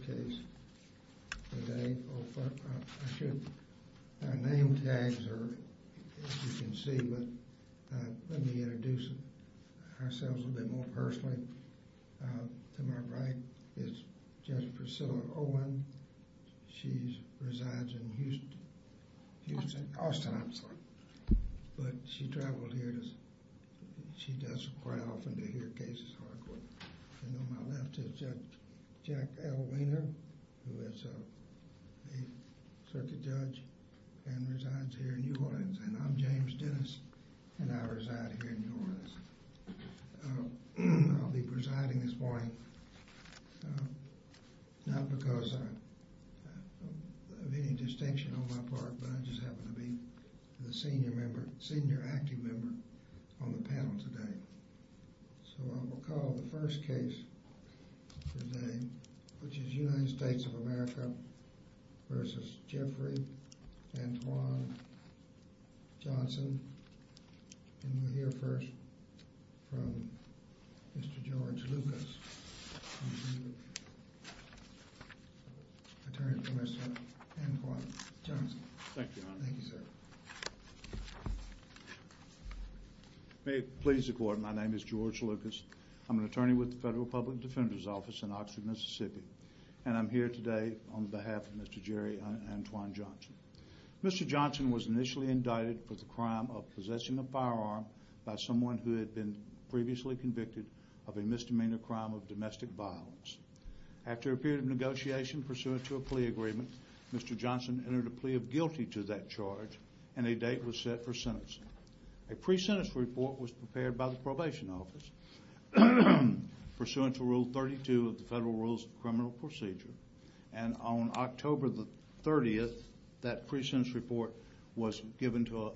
case today. Our nametags are, as you can see, but let me introduce ourselves a bit more personally. To my right is Judge Priscilla Owen. She resides in Houston, Austin, I'm sorry, but she travels here. She does quite often to hear cases. And on my left is Judge Jack who is a circuit judge and resides here in New Orleans. And I'm James Dennis and I reside here in New Orleans. I'll be presiding this morning not because of any distinction on my part, but I just happen to be the senior member, senior active member on the panel today. So I will call the first case today, which is United States of America v. Jeffrey Antoine Johnson. And we'll hear first from Mr. George Lucas, Attorney Commissioner Antoine Johnson. Thank you. Thank you, sir. May it please the court, my name is George Lucas. I'm an attorney with the Federal Public Defender's Office in Oxford, Mississippi. And I'm here today on behalf of Mr. Jerry Antoine Johnson. Mr. Johnson was initially indicted for the crime of possessing a firearm by someone who had been previously convicted of a misdemeanor crime of domestic violence. After a period of negotiation pursuant to a plea agreement, Mr. Johnson entered a plea of guilty to that charge, and a date was set for sentencing. A pre-sentence report was prepared by the probation office pursuant to Rule 32 of the Federal Rules of Criminal Procedure. And on October the 30th, that pre-sentence report was given to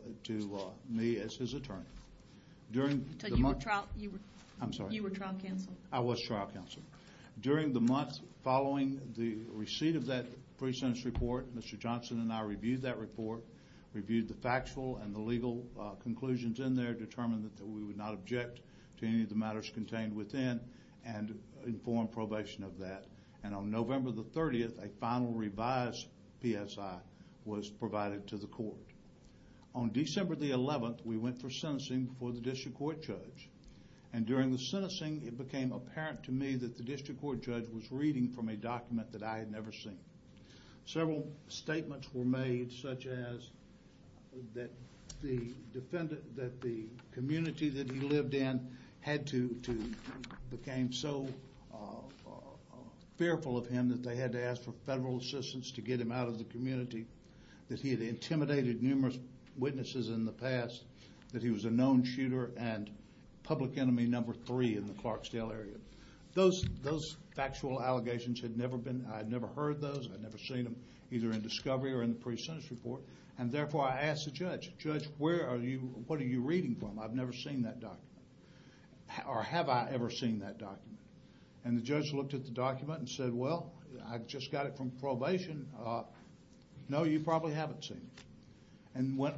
me as his attorney. You were trial counsel? I was trial counsel. During the month following the receipt of that pre-sentence report, Mr. Johnson and I reviewed that report, reviewed the factual and the legal conclusions in there, determined that we would not object to any of the matters contained within, and informed probation of that. And on November the 30th, a final revised PSI was provided to the court. On December the 11th, we went for sentencing before the district court judge. And during the sentencing, it became apparent to me that the district court judge was reading from a document that I had never seen. Several statements were made, such as that the defendant, that the community that he lived in had to, became so fearful of him that they had to ask for federal assistance to get him out of the community, that he had intimidated numerous witnesses in the past, that he was a known shooter and public enemy number three in the Clarksdale area. Those factual allegations had never been, I'd never heard those, I'd never seen them either in discovery or in the pre-sentence report, and therefore I asked the judge, judge where are you, what are you reading from? I've never seen that document. Or have I ever seen that document? And the judge looked at the document and said, well I just got it from probation, no you probably haven't seen it, and went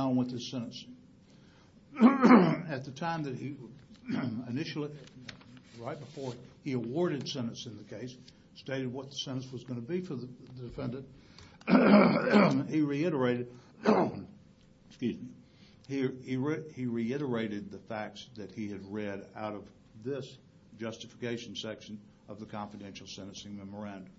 on with his sentence. At the time that he initially, right before he awarded sentence in the case, stated what the sentence was going to be for the defendant, he reiterated, excuse me, he reiterated the facts that he had read out of this justification section of the confidential sentencing memorandum.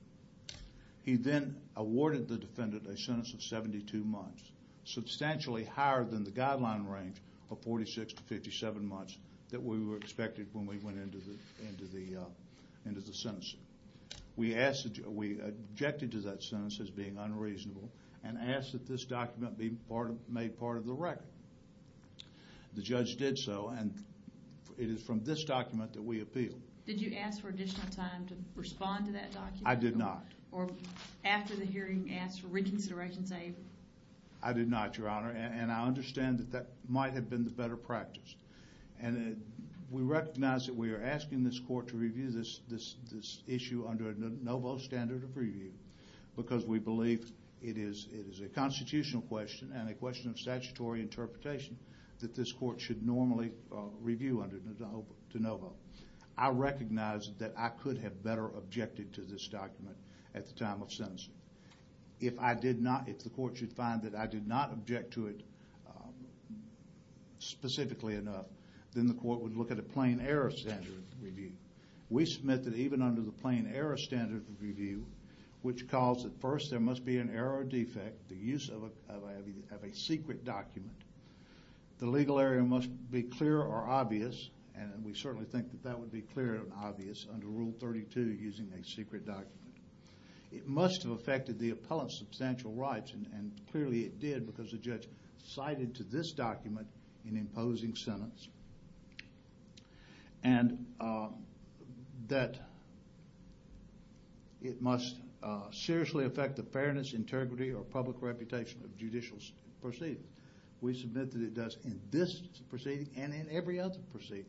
He then awarded the defendant a sentence of 72 months, substantially higher than the guideline range of 46 to 57 months that we were expected when we went into the, into the uh, into the sentencing. We asked, we objected to that sentence as being unreasonable and asked that this document be part of, made part of the record. The judge did so, and it is from this document that we appealed. Did you ask for additional time to respond to that document? I did not. Or after the hearing, ask for reconsideration, say? I did not, your honor, and I understand that that might have been the better practice, and we recognize that we are asking this court to review this, this, this issue under a standard of review because we believe it is, it is a constitutional question and a question of statutory interpretation that this court should normally review under de novo. I recognize that I could have better objected to this document at the time of sentencing. If I did not, if the court should find that I did not object to it specifically enough, then the court would look at a plain error standard review. We submit that even under the plain error standard review, which calls at first there must be an error or defect, the use of a, of a secret document, the legal area must be clear or obvious, and we certainly think that that would be clear and obvious under Rule 32 using a secret document. It must have affected the appellant's substantial rights, and clearly it did because the and that it must seriously affect the fairness, integrity, or public reputation of judicial proceedings. We submit that it does in this proceeding and in every other proceeding.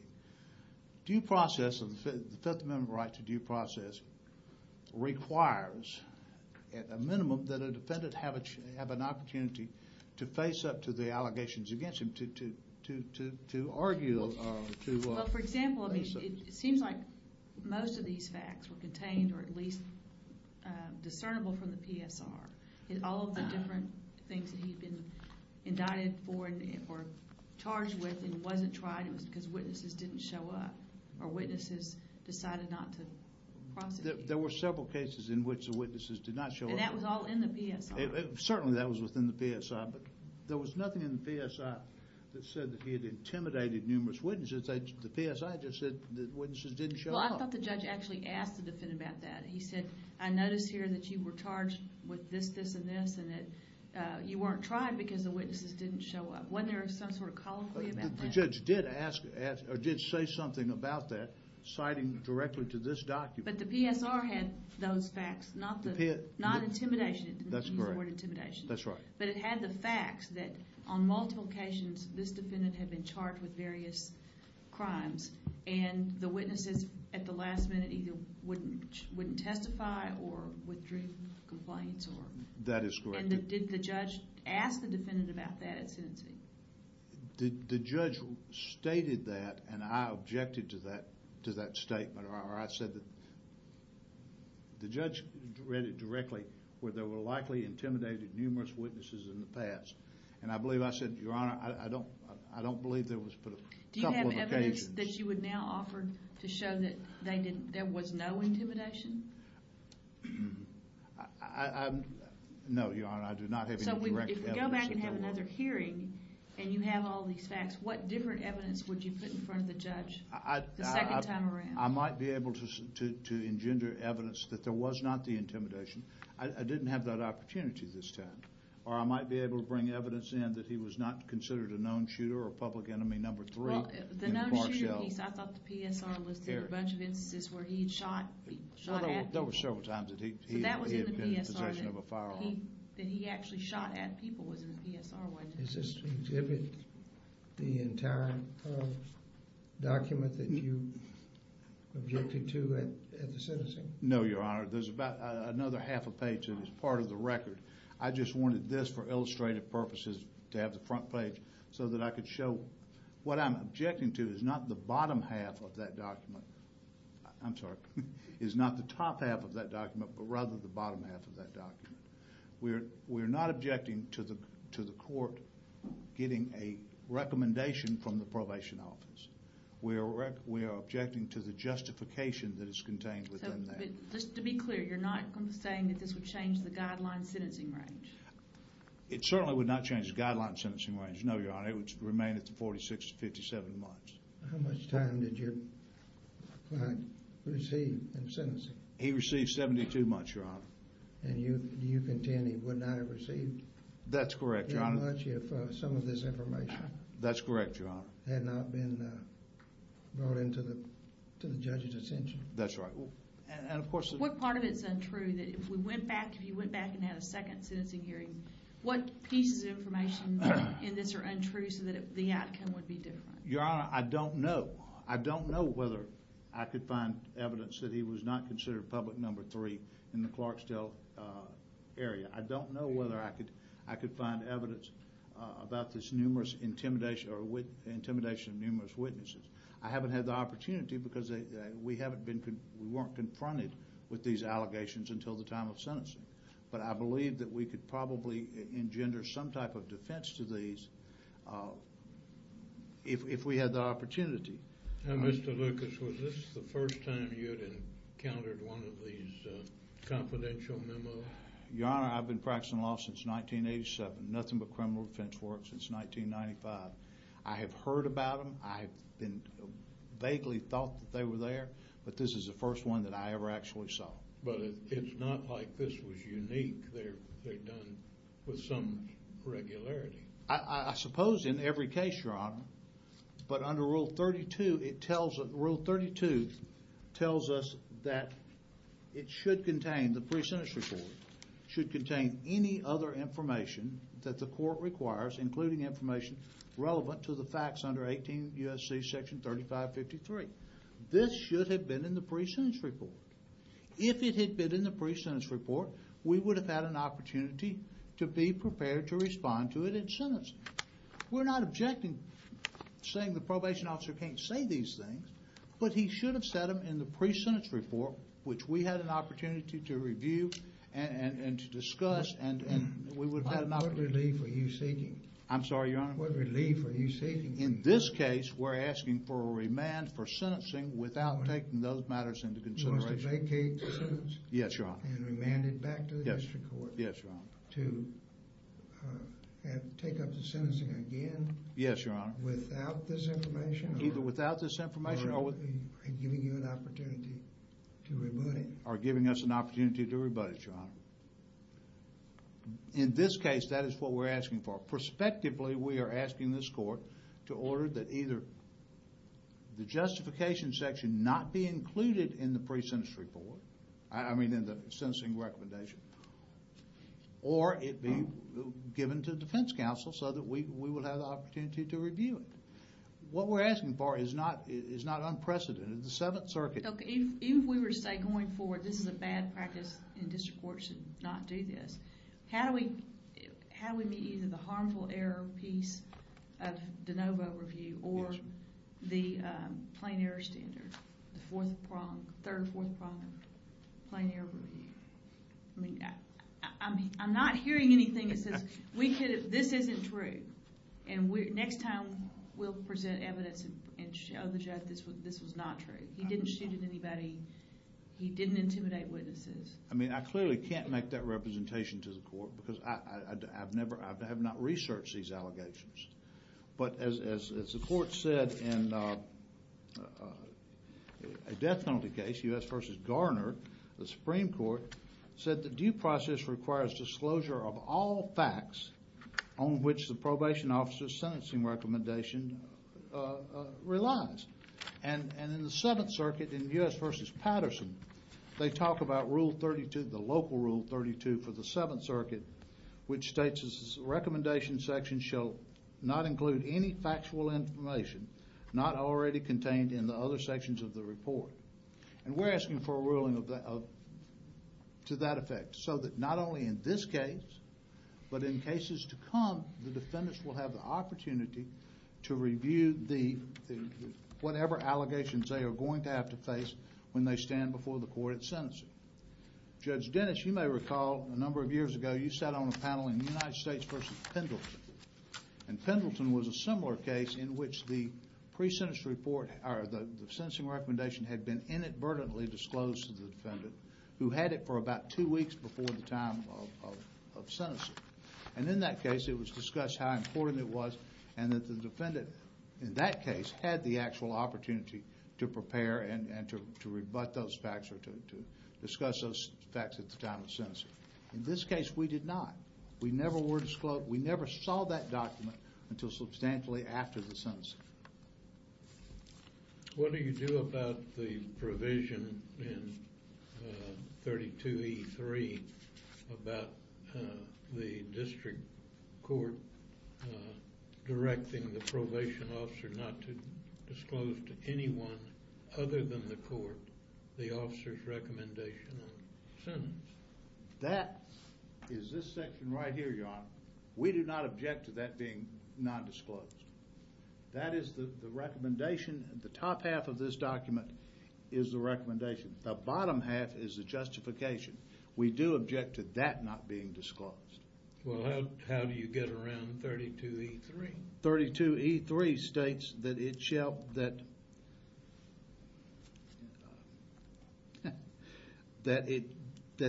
Due process of the Fifth Amendment right to due process requires at a minimum that a defendant have a, have an Well, for example, I mean, it seems like most of these facts were contained or at least discernible from the PSR. All of the different things that he'd been indicted for or charged with and wasn't tried, it was because witnesses didn't show up or witnesses decided not to prosecute. There were several cases in which the witnesses did not show up. And that was all in the PSR. Certainly that was within the PSR, but there was nothing in the PSR that said that he intimidated numerous witnesses. The PSI just said that witnesses didn't show up. Well, I thought the judge actually asked the defendant about that. He said, I notice here that you were charged with this, this, and this, and that you weren't tried because the witnesses didn't show up. Wasn't there some sort of colloquy about that? The judge did ask, or did say something about that citing directly to this document. But the PSR had those facts, not the, not intimidation. That's correct. He used the word charged with various crimes and the witnesses at the last minute either wouldn't testify or withdrew complaints or. That is correct. And did the judge ask the defendant about that at sentencing? The judge stated that and I objected to that, to that statement or I said that the judge read it directly where there were likely intimidated numerous witnesses in the past. And I believe I said, your honor, I don't, I don't believe there was but a couple of occasions. Do you have evidence that you would now offer to show that they didn't, there was no intimidation? No, your honor, I do not have any direct evidence. So if you go back and have another hearing and you have all these facts, what different evidence would you put in front of the judge the second time around? I might be able to, to, to engender evidence that there was not the evidence in that he was not considered a known shooter or public enemy number three. Well, the known shooter piece, I thought the PSR listed a bunch of instances where he had shot, shot at people. There were several times that he, he had been in possession of a firearm. But that was in the PSR, that he actually shot at people was in the PSR witness. Is this to exhibit the entire document that you objected to at, at the sentencing? No, your honor, there's about another half a page that is part of the record. I just wanted this for to have the front page so that I could show what I'm objecting to is not the bottom half of that document. I'm sorry, is not the top half of that document, but rather the bottom half of that document. We're, we're not objecting to the, to the court getting a recommendation from the probation office. We are, we are objecting to the justification that is contained within that. Just to be clear, you're not saying that this would change the guideline sentencing range? It certainly would not change the guideline sentencing range. No, your honor, it would remain at the 46 to 57 months. How much time did your client receive in sentencing? He received 72 months, your honor. And you, you contend he would not have received. That's correct, your honor. That much if some of this information. That's correct, your honor. Had not been brought into the, to the judge's attention. That's right. And of course. What part of it's untrue that if we went back, if you went back and had a second sentencing hearing, what pieces of information in this are untrue so that the outcome would be different? Your honor, I don't know. I don't know whether I could find evidence that he was not considered public number three in the Clarksdale area. I don't know whether I could, I could find evidence about this numerous intimidation or intimidation of numerous witnesses. I haven't had the opportunity because we haven't been, we weren't confronted with these allegations until the time of sentencing. But I believe that we could probably engender some type of defense to these. If we had the opportunity. Now, Mr. Lucas, was this the first time you had encountered one of these confidential memos? Your honor, I've been practicing law since 1987. Nothing but criminal defense work since 1995. I have heard about them. I've been vaguely thought that they were there. But this is the first one that I ever actually saw. But it's not like this was unique. They're done with some regularity. I suppose in every case, your honor. But under rule 32, it tells us, rule 32 tells us that it should contain, the pre-sentence report should contain any other information that the court requires, including information relevant to the facts under 18 U.S.C. section 3553. This should have been in the pre-sentence report. If it had been in the pre-sentence report, we would have had an opportunity to be prepared to respond to it in sentence. We're not objecting, saying the probation officer can't say these things, but he should have said them in the pre-sentence report, which we had an opportunity to review and to discuss and we would have had an opportunity. What relief are you seeking? I'm sorry, your honor. What relief are you seeking? In this case, we're asking for a remand for sentencing without taking those matters into consideration. You want us to vacate the sentence? Yes, your honor. And remand it back to the district court? Yes, your honor. To take up the sentencing again? Yes, your honor. Without this information? Either without this information or with... Or giving you an opportunity to rebut it? Or giving us an opportunity to rebut it, your honor. In this case, that is what we're asking for. Prospectively, we are asking this court to order that either the justification section not be included in the pre-sentence report, I mean in the sentencing recommendation, or it be given to defense counsel so that we will have the opportunity to review it. What we're asking for is not unprecedented. The Seventh Circuit... Okay, even if we were to say going forward, this is a bad practice and district court should not do this, how do we meet either the harmful error piece of de novo review or the plain error standard? The fourth prong, third or fourth prong of plain error review. I mean, I'm not hearing anything that says this isn't true. And next time we'll present evidence and show the judge this was not true. He didn't shoot at anybody. He didn't intimidate witnesses. I mean, I clearly can't make that representation to the court because I have not researched these allegations. But as the court said in a death penalty case, U.S. v. Garner, the Supreme Court said the due process requires disclosure of all facts on which the probation officer's sentencing recommendation relies. And in the Seventh Circuit, in U.S. v. Patterson, they talk about Rule 32, the local Rule 32 for the Seventh Circuit, which states the recommendation section shall not include any factual information not already contained in the other sections of the report. And we're asking for a ruling to that effect. So that not only in this case, but in cases to come, the defendants will have the opportunity to review whatever allegations they are going to have to face when they stand before the court at sentencing. Judge Dennis, you may recall a number of years ago, sat on a panel in the United States v. Pendleton. And Pendleton was a similar case in which the pre-sentence report, or the sentencing recommendation, had been inadvertently disclosed to the defendant who had it for about two weeks before the time of sentencing. And in that case, it was discussed how important it was and that the defendant, in that case, had the actual opportunity to prepare and to rebut those facts or to discuss those facts at the time of sentencing. In this case, we did not. We never were disclosed. We never saw that document until substantially after the sentencing. What do you do about the provision in 32E3 about the district court directing the probation officer not to disclose to anyone other than the court the officer's recommendation on the sentence? That is this section right here, Your Honor. We do not object to that being non-disclosed. That is the recommendation. The top half of this document is the recommendation. The bottom half is the justification. We do object to that not being disclosed. Well, how do you get around 32E3? 32E3 states that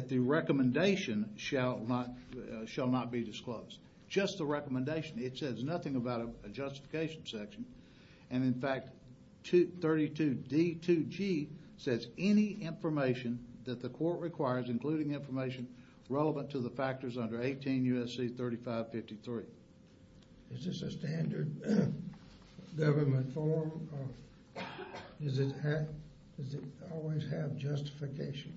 the recommendation shall not be disclosed. Just the recommendation. It says nothing about a justification section. And in fact, 32D2G says any information that the court requires, including information relevant to the factors under 18 U.S.C. 3553. Is this a standard government form? Does it always have justification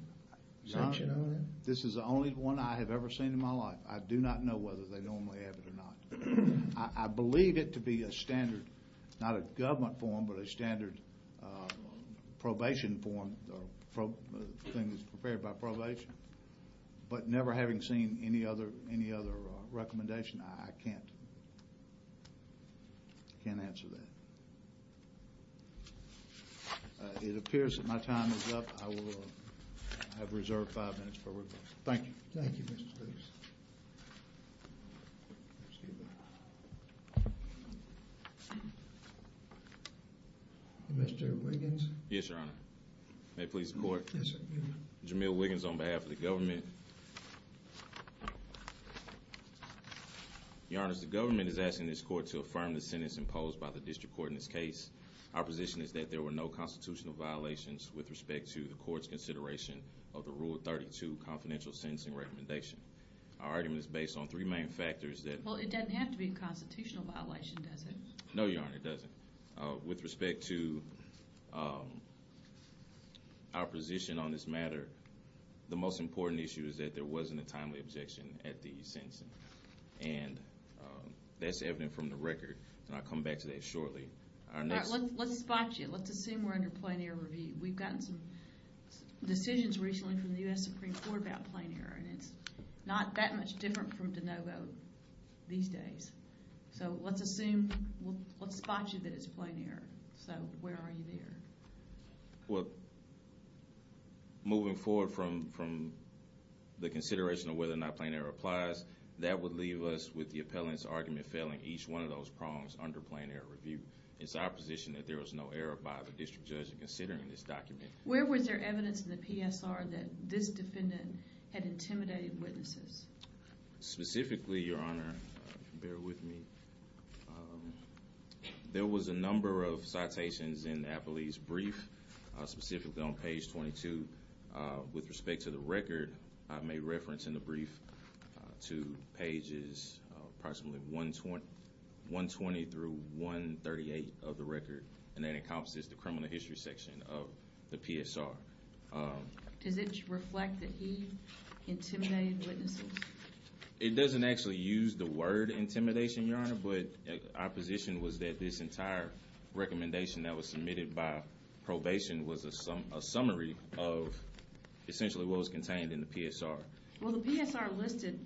section on it? This is the only one I have ever seen in my life. I do not know whether they normally have it or not. I believe it to be a standard, not a government form, but a standard probation form, things prepared by probation. But never having seen any other recommendation, I can't answer that. It appears that my time is up. I will have reserved five minutes for rebuttal. Thank you. Thank you, Mr. Speaks. Mr. Wiggins? Yes, Your Honor. May it please the court? Yes, sir. Jamil Wiggins on behalf of the government. Your Honor, the government is asking this court to affirm the sentence imposed by the district court in this case. Our position is that there were no constitutional violations with respect to the court's consideration of the Rule 32 confidential sentencing recommendation. Our argument is based on three main factors that... Well, it doesn't have to be a constitutional violation, does it? No, Your Honor, it doesn't. With respect to our position on this matter, the most important issue is that there wasn't a timely objection at the sentencing. And that's evident from the record, and I'll come back to that shortly. All right, let's spot you. Let's assume we're under plain error review. We've gotten some decisions recently from the U.S. Supreme Court about plain error, and it's not that much different from DeNovo these days. So let's assume, let's spot you that it's plain error. So where are you there? Well, moving forward from the consideration of whether or not plain error applies, that would leave us with the appellant's argument failing each one of those prongs under plain error review. It's our position that there was no error by the district judge in considering this document. Where was there evidence in the PSR that this defendant had intimidated witnesses? Specifically, Your Honor, bear with me. There was a number of citations in Appley's brief, specifically on page 22. With respect to the record, I made reference in the brief to pages approximately 120 through 138 of the record, and that encompasses the criminal history section of the PSR. Does it reflect that he intimidated witnesses? It doesn't actually use the word intimidation, Your Honor, but our position was that this entire recommendation that was submitted by probation was a summary of essentially what was contained in the PSR. Well, the PSR listed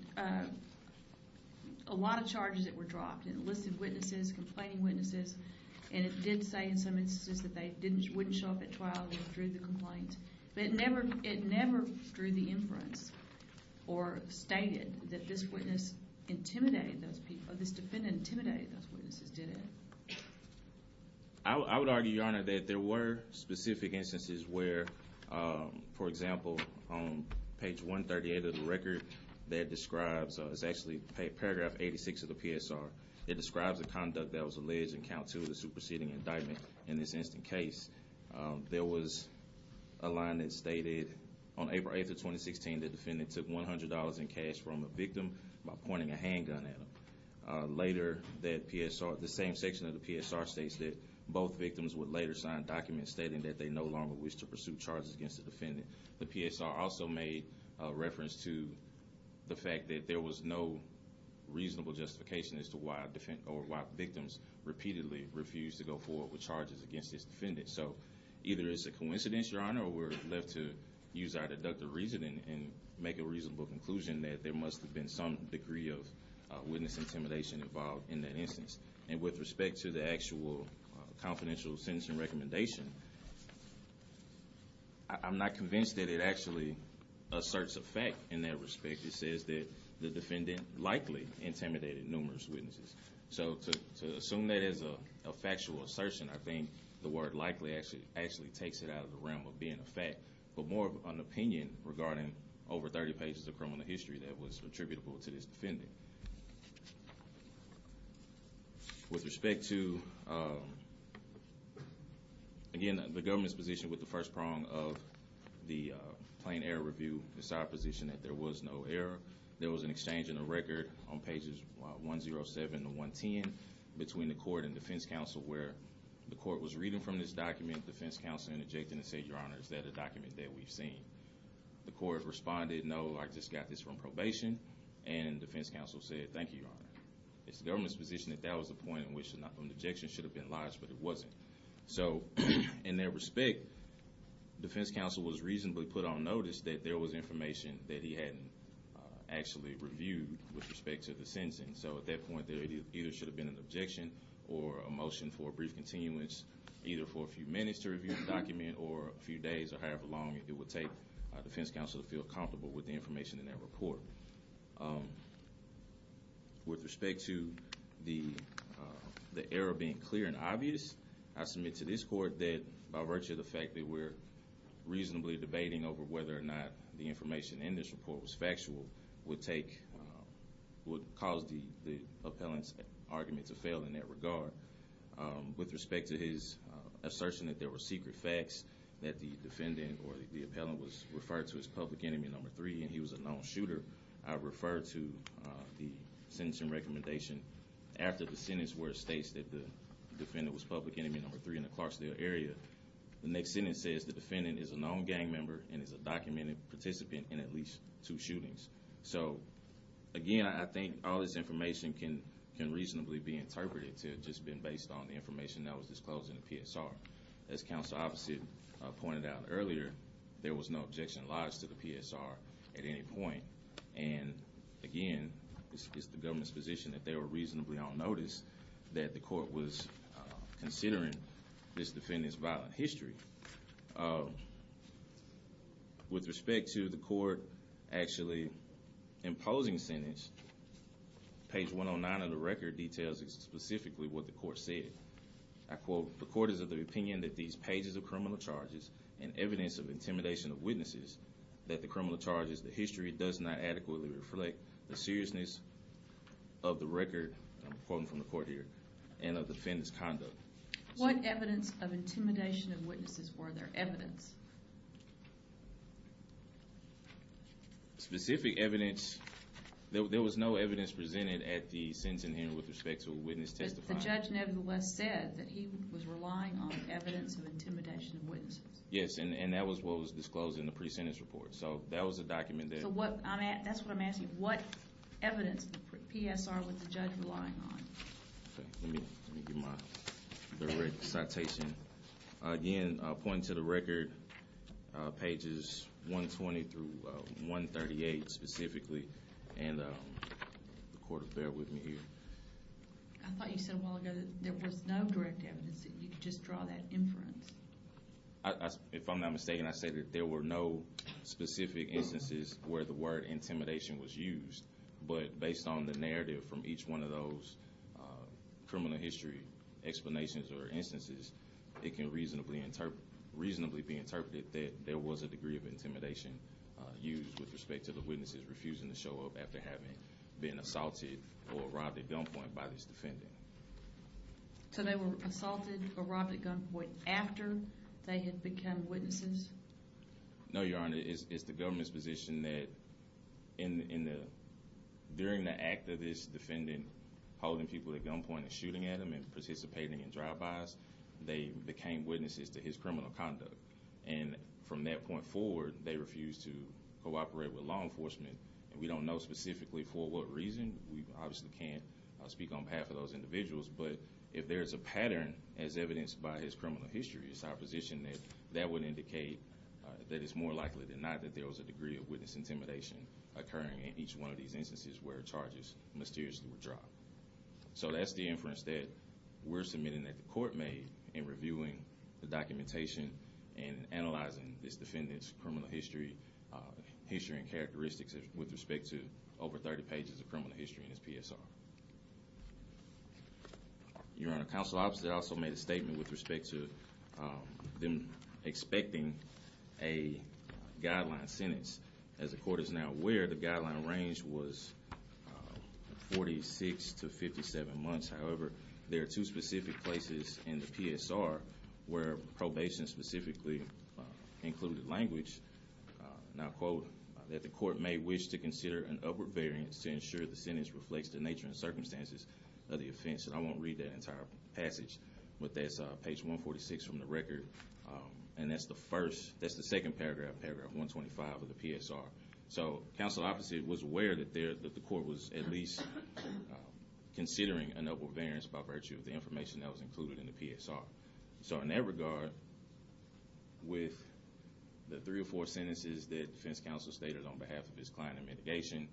a lot of charges that were dropped. It listed witnesses, complaining witnesses, and it did say in some instances that they wouldn't show up at trial and they withdrew the complaint. But it never drew the inference or stated that this witness intimidated those people, this defendant intimidated those witnesses, did it? I would argue, Your Honor, that there were specific instances where, for example, on page 138 of the record, that describes, it's actually paragraph 86 of the PSR, it describes the conduct that was alleged in count two of the superseding indictment in this instant case. There was a line that stated, on April 8th of 2016, the defendant took $100 in cash from a victim by pointing a handgun at him. Later, the same section of the PSR states that both victims would later sign documents stating that they no longer wish to pursue charges against the defendant. The PSR also made reference to the fact that there was no reasonable justification as to why victims repeatedly refused to go forward with charges against this defendant. So either it's a coincidence, Your Honor, or we're left to use our deductive reasoning and make a reasonable conclusion that there must have been some degree of witness intimidation involved in that instance. And with respect to the actual confidential sentencing recommendation, I'm not convinced that it actually asserts a fact in that respect. It says that the defendant likely intimidated numerous witnesses. So to assume that as a factual assertion, I think the word likely actually takes it out of the realm of being a fact, but more of an opinion regarding over 30 pages of criminal history that was attributable to this defendant. With respect to, again, the government's position with the first prong of the plain error review, it's our position that there was no error. There was an exchange in the record on pages 107 to 110 between the court and defense counsel, where the court was reading from this document, defense counsel interjecting and saying, Your Honor, is that a document that we've seen? The court responded, no, I just got this from probation. And defense counsel said, Thank you, Your Honor. It's the government's position that that was the point in which an objection should have been lodged, but it wasn't. So in that respect, defense counsel was reasonably put on notice that there was information that he hadn't actually reviewed with respect to the sentencing. So at that point, there either should have been an objection or a motion for a brief continuance, either for a few minutes to review the document or a few days or however long it would take a defense counsel to feel comfortable with the information in that report. With respect to the error being clear and obvious, I submit to this court that by virtue of the fact that we're reasonably debating over whether or not the information in this report was factual would cause the appellant's argument to fail in that regard. With respect to his assertion that there were secret facts that the defendant or the appellant was referred to as public enemy number three and he was a known shooter, I refer to the sentencing recommendation after the sentence where it states that the defendant was public enemy number three in the Clarksdale area. The next sentence says the defendant is a known gang member and is a documented participant in at least two shootings. So again, I think all this information can reasonably be interpreted to have just been based on the information that was disclosed in the PSR. As counsel opposite pointed out earlier, there was no objection lodged to the PSR at any point. And again, it's the government's position that they were reasonably on notice that the court was considering this defendant's violent history. With respect to the court actually imposing sentence, page 109 of the record details specifically what the court said. I quote, the court is of the opinion that these pages of criminal charges and evidence of intimidation of witnesses that the criminal charges, the history does not adequately reflect the seriousness of the record, I'm quoting from the court here, and of the defendant's conduct. What evidence of intimidation of witnesses were there evidence? Specific evidence, there was no evidence presented at the sentencing hearing with respect to a witness testifying. that he was relying on evidence of intimidation of witnesses. Yes, and that was what was disclosed in the pre-sentence report. So that was a document that... So that's what I'm asking, what evidence of PSR was the judge relying on? Okay, let me get my citation. Again, pointing to the record, pages 120 through 138 specifically, and the court affair with me here. I thought you said a while ago that there was no direct evidence that you could just draw that inference. If I'm not mistaken, I said that there were no specific instances where the word intimidation was used, but based on the narrative from each one of those criminal history explanations or instances, it can reasonably be interpreted that there was a degree of intimidation used with respect to the witnesses refusing to show up after having been assaulted or robbed at gunpoint by this defendant. So they were assaulted or robbed at gunpoint after they had become witnesses? No, Your Honor, it's the government's position that during the act of this defendant holding people at gunpoint and shooting at them and participating in drive-bys, they became witnesses to his criminal conduct. And from that point forward, they refused to cooperate with law enforcement. And we don't know specifically for what reason. We obviously can't speak on behalf of those individuals, but if there's a pattern as evidenced by his criminal history, it's our position that that would indicate that it's more likely than not that there was a degree of witness intimidation occurring in each one of these instances where charges mysteriously were dropped. So that's the inference that we're submitting that the court made in reviewing the documentation and analyzing this defendant's criminal history history and characteristics with respect to over 30 pages of criminal history in his PSR. Your Honor, Counsel Officer also made a statement with respect to them expecting a guideline sentence. As the court is now aware, the guideline range was 46 to 57 months. However, there are two specific places in the PSR where probation specifically included language, and I'll quote, that the court may wish to consider an upward variance to ensure the sentence reflects the nature and scope and circumstances of the offense, and I won't read that entire passage, but that's page 146 from the record, and that's the first, that's the second paragraph, paragraph 125 of the PSR. So Counsel Officer was aware that the court was at least considering an upward variance by virtue of the information that was included in the PSR. So in that regard, with the three or four sentences that defense counsel stated on behalf of his client in mitigation,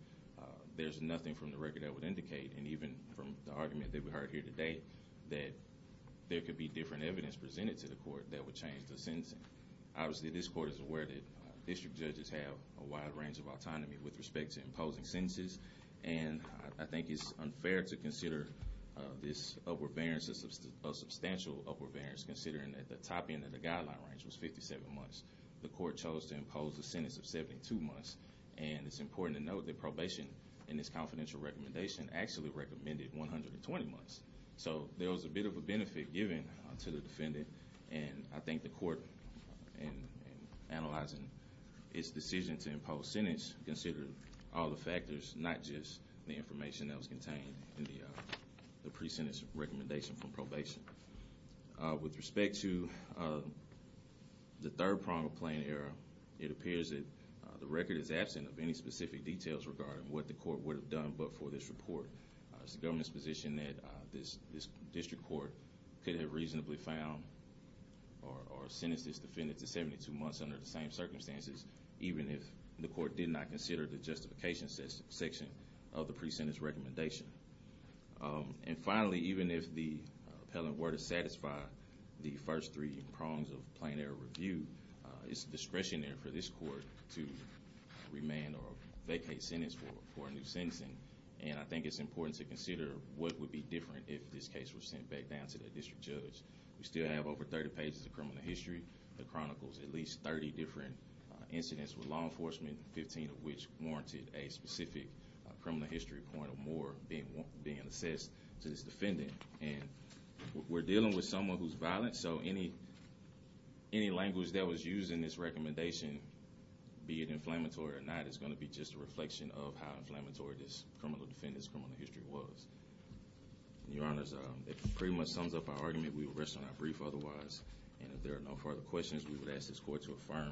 there's nothing from the record that would indicate, and even from the argument that we heard here today, that there could be different evidence presented to the court that would change the sentencing. Obviously, this court is aware that district judges have a wide range of autonomy with respect to imposing sentences, and I think it's unfair to consider this upward variance as a substantial upward variance considering that the top end of the guideline range was 57 months. The court chose to impose the sentence of 72 months, and it's important to note that probation in this confidential recommendation actually recommended 120 months. So there was a bit of a benefit given to the defendant, and I think the court in analyzing its decision to impose sentence considered all the factors, not just the information that was contained in the pre-sentence recommendation from probation. With respect to the third prong of plain error, it appears that the record is absent of any specific details regarding what the court would have done but for this report. It's the government's position that this district court could have reasonably found or sentenced this defendant to 72 months under the same circumstances, even if the court did not consider the justification section of the pre-sentence recommendation. And finally, even if the appellant were to satisfy the first three prongs of plain error review, it's discretionary for this court to remand or vacate sentence for a new sentencing. And I think it's important to consider what would be different if this case was sent back down to the district judge. We still have over 30 pages of criminal history that chronicles at least 30 different incidents with law enforcement, 15 of which warranted a specific criminal history point or more being assessed to this defendant. And we're dealing with someone who's violent, so any language that was used in this recommendation be it inflammatory or not is going to be just a reflection of how inflammatory this criminal defendant's criminal history was. Your honors, it pretty much sums up our argument. We will rest on our brief otherwise. And if there are no further questions, we would ask this court to affirm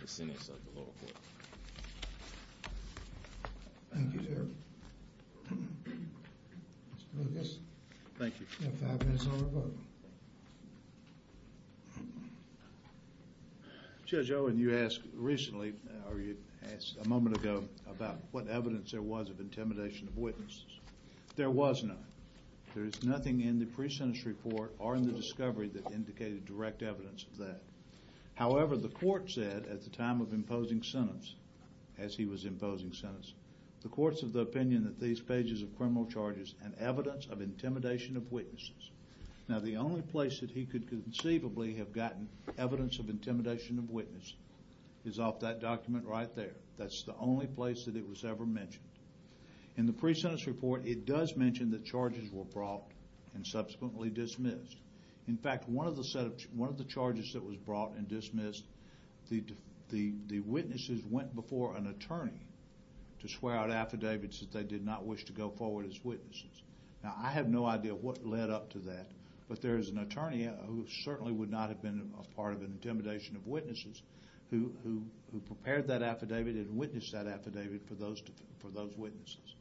the sentence of the lower court. Thank you, Terry. Thank you. Judge Owen, you asked recently or you asked a moment ago about what evidence there was of intimidation of witnesses. There was none. There's nothing in the pre-sentence report or in the discovery that indicated direct evidence of that. However, the court said at the time of imposing sentence, as he was imposing sentence, the courts of the opinion that these pages of criminal charges and evidence of intimidation of witnesses. Now, the only place that he could conceivably have gotten evidence of intimidation of witnesses is off that document right there. That's the only place that it was ever mentioned. In the pre-sentence report, it does mention that charges were brought and subsequently dismissed. In fact, one of the set of one of the charges that was brought and dismissed, the witnesses went before an attorney to swear out affidavits that they did not wish to go forward as witnesses. Now, I have no idea what led up to that, but there is an attorney who certainly would not have been part of an intimidation of witnesses who prepared that affidavit and witnessed that affidavit for those witnesses.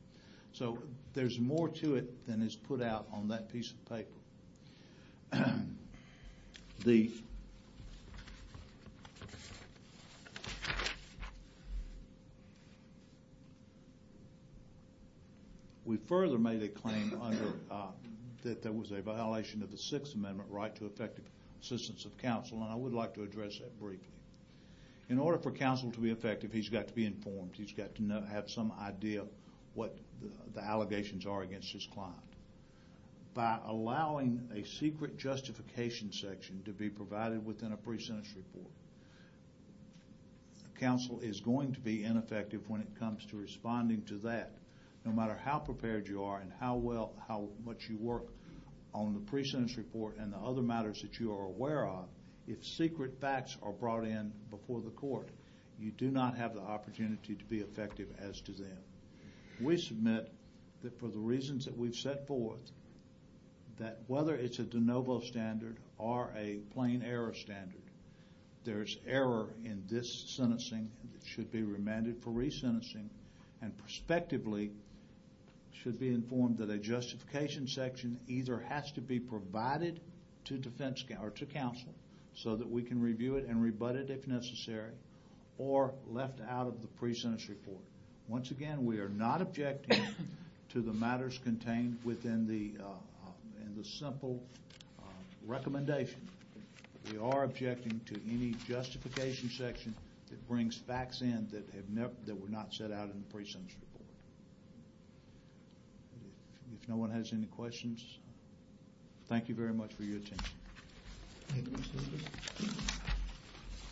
So there's more to it than is put out on that piece of paper. We further made a claim that there was a violation of the Sixth Amendment right to effective assistance of counsel, and I would like to address that briefly. In order for counsel to be effective, he's got to be informed. He's got to have some idea what the allegations are against his client. By allowing a secret justification section to be provided within a pre-sentence report, counsel is going to be ineffective when it comes to responding to that, no matter how prepared you are and how well, how much you work on the pre-sentence report and the other matters that you are aware of. If secret facts are brought in before the court, you do not have the opportunity to be effective as to them. We submit that for the reasons that we've set forth, that whether it's a de novo standard or a plain error standard, there's error in this sentencing that should be remanded for re-sentencing and prospectively should be informed that a justification section either has to be provided to counsel so that we can review it and rebut it if necessary or left out of the pre-sentence report. Once again, we are not objecting to the matters contained within the simple recommendation. We are objecting to any justification section that brings facts in that were not set out in the pre-sentence report. If no one has any questions, thank you very much for your attention.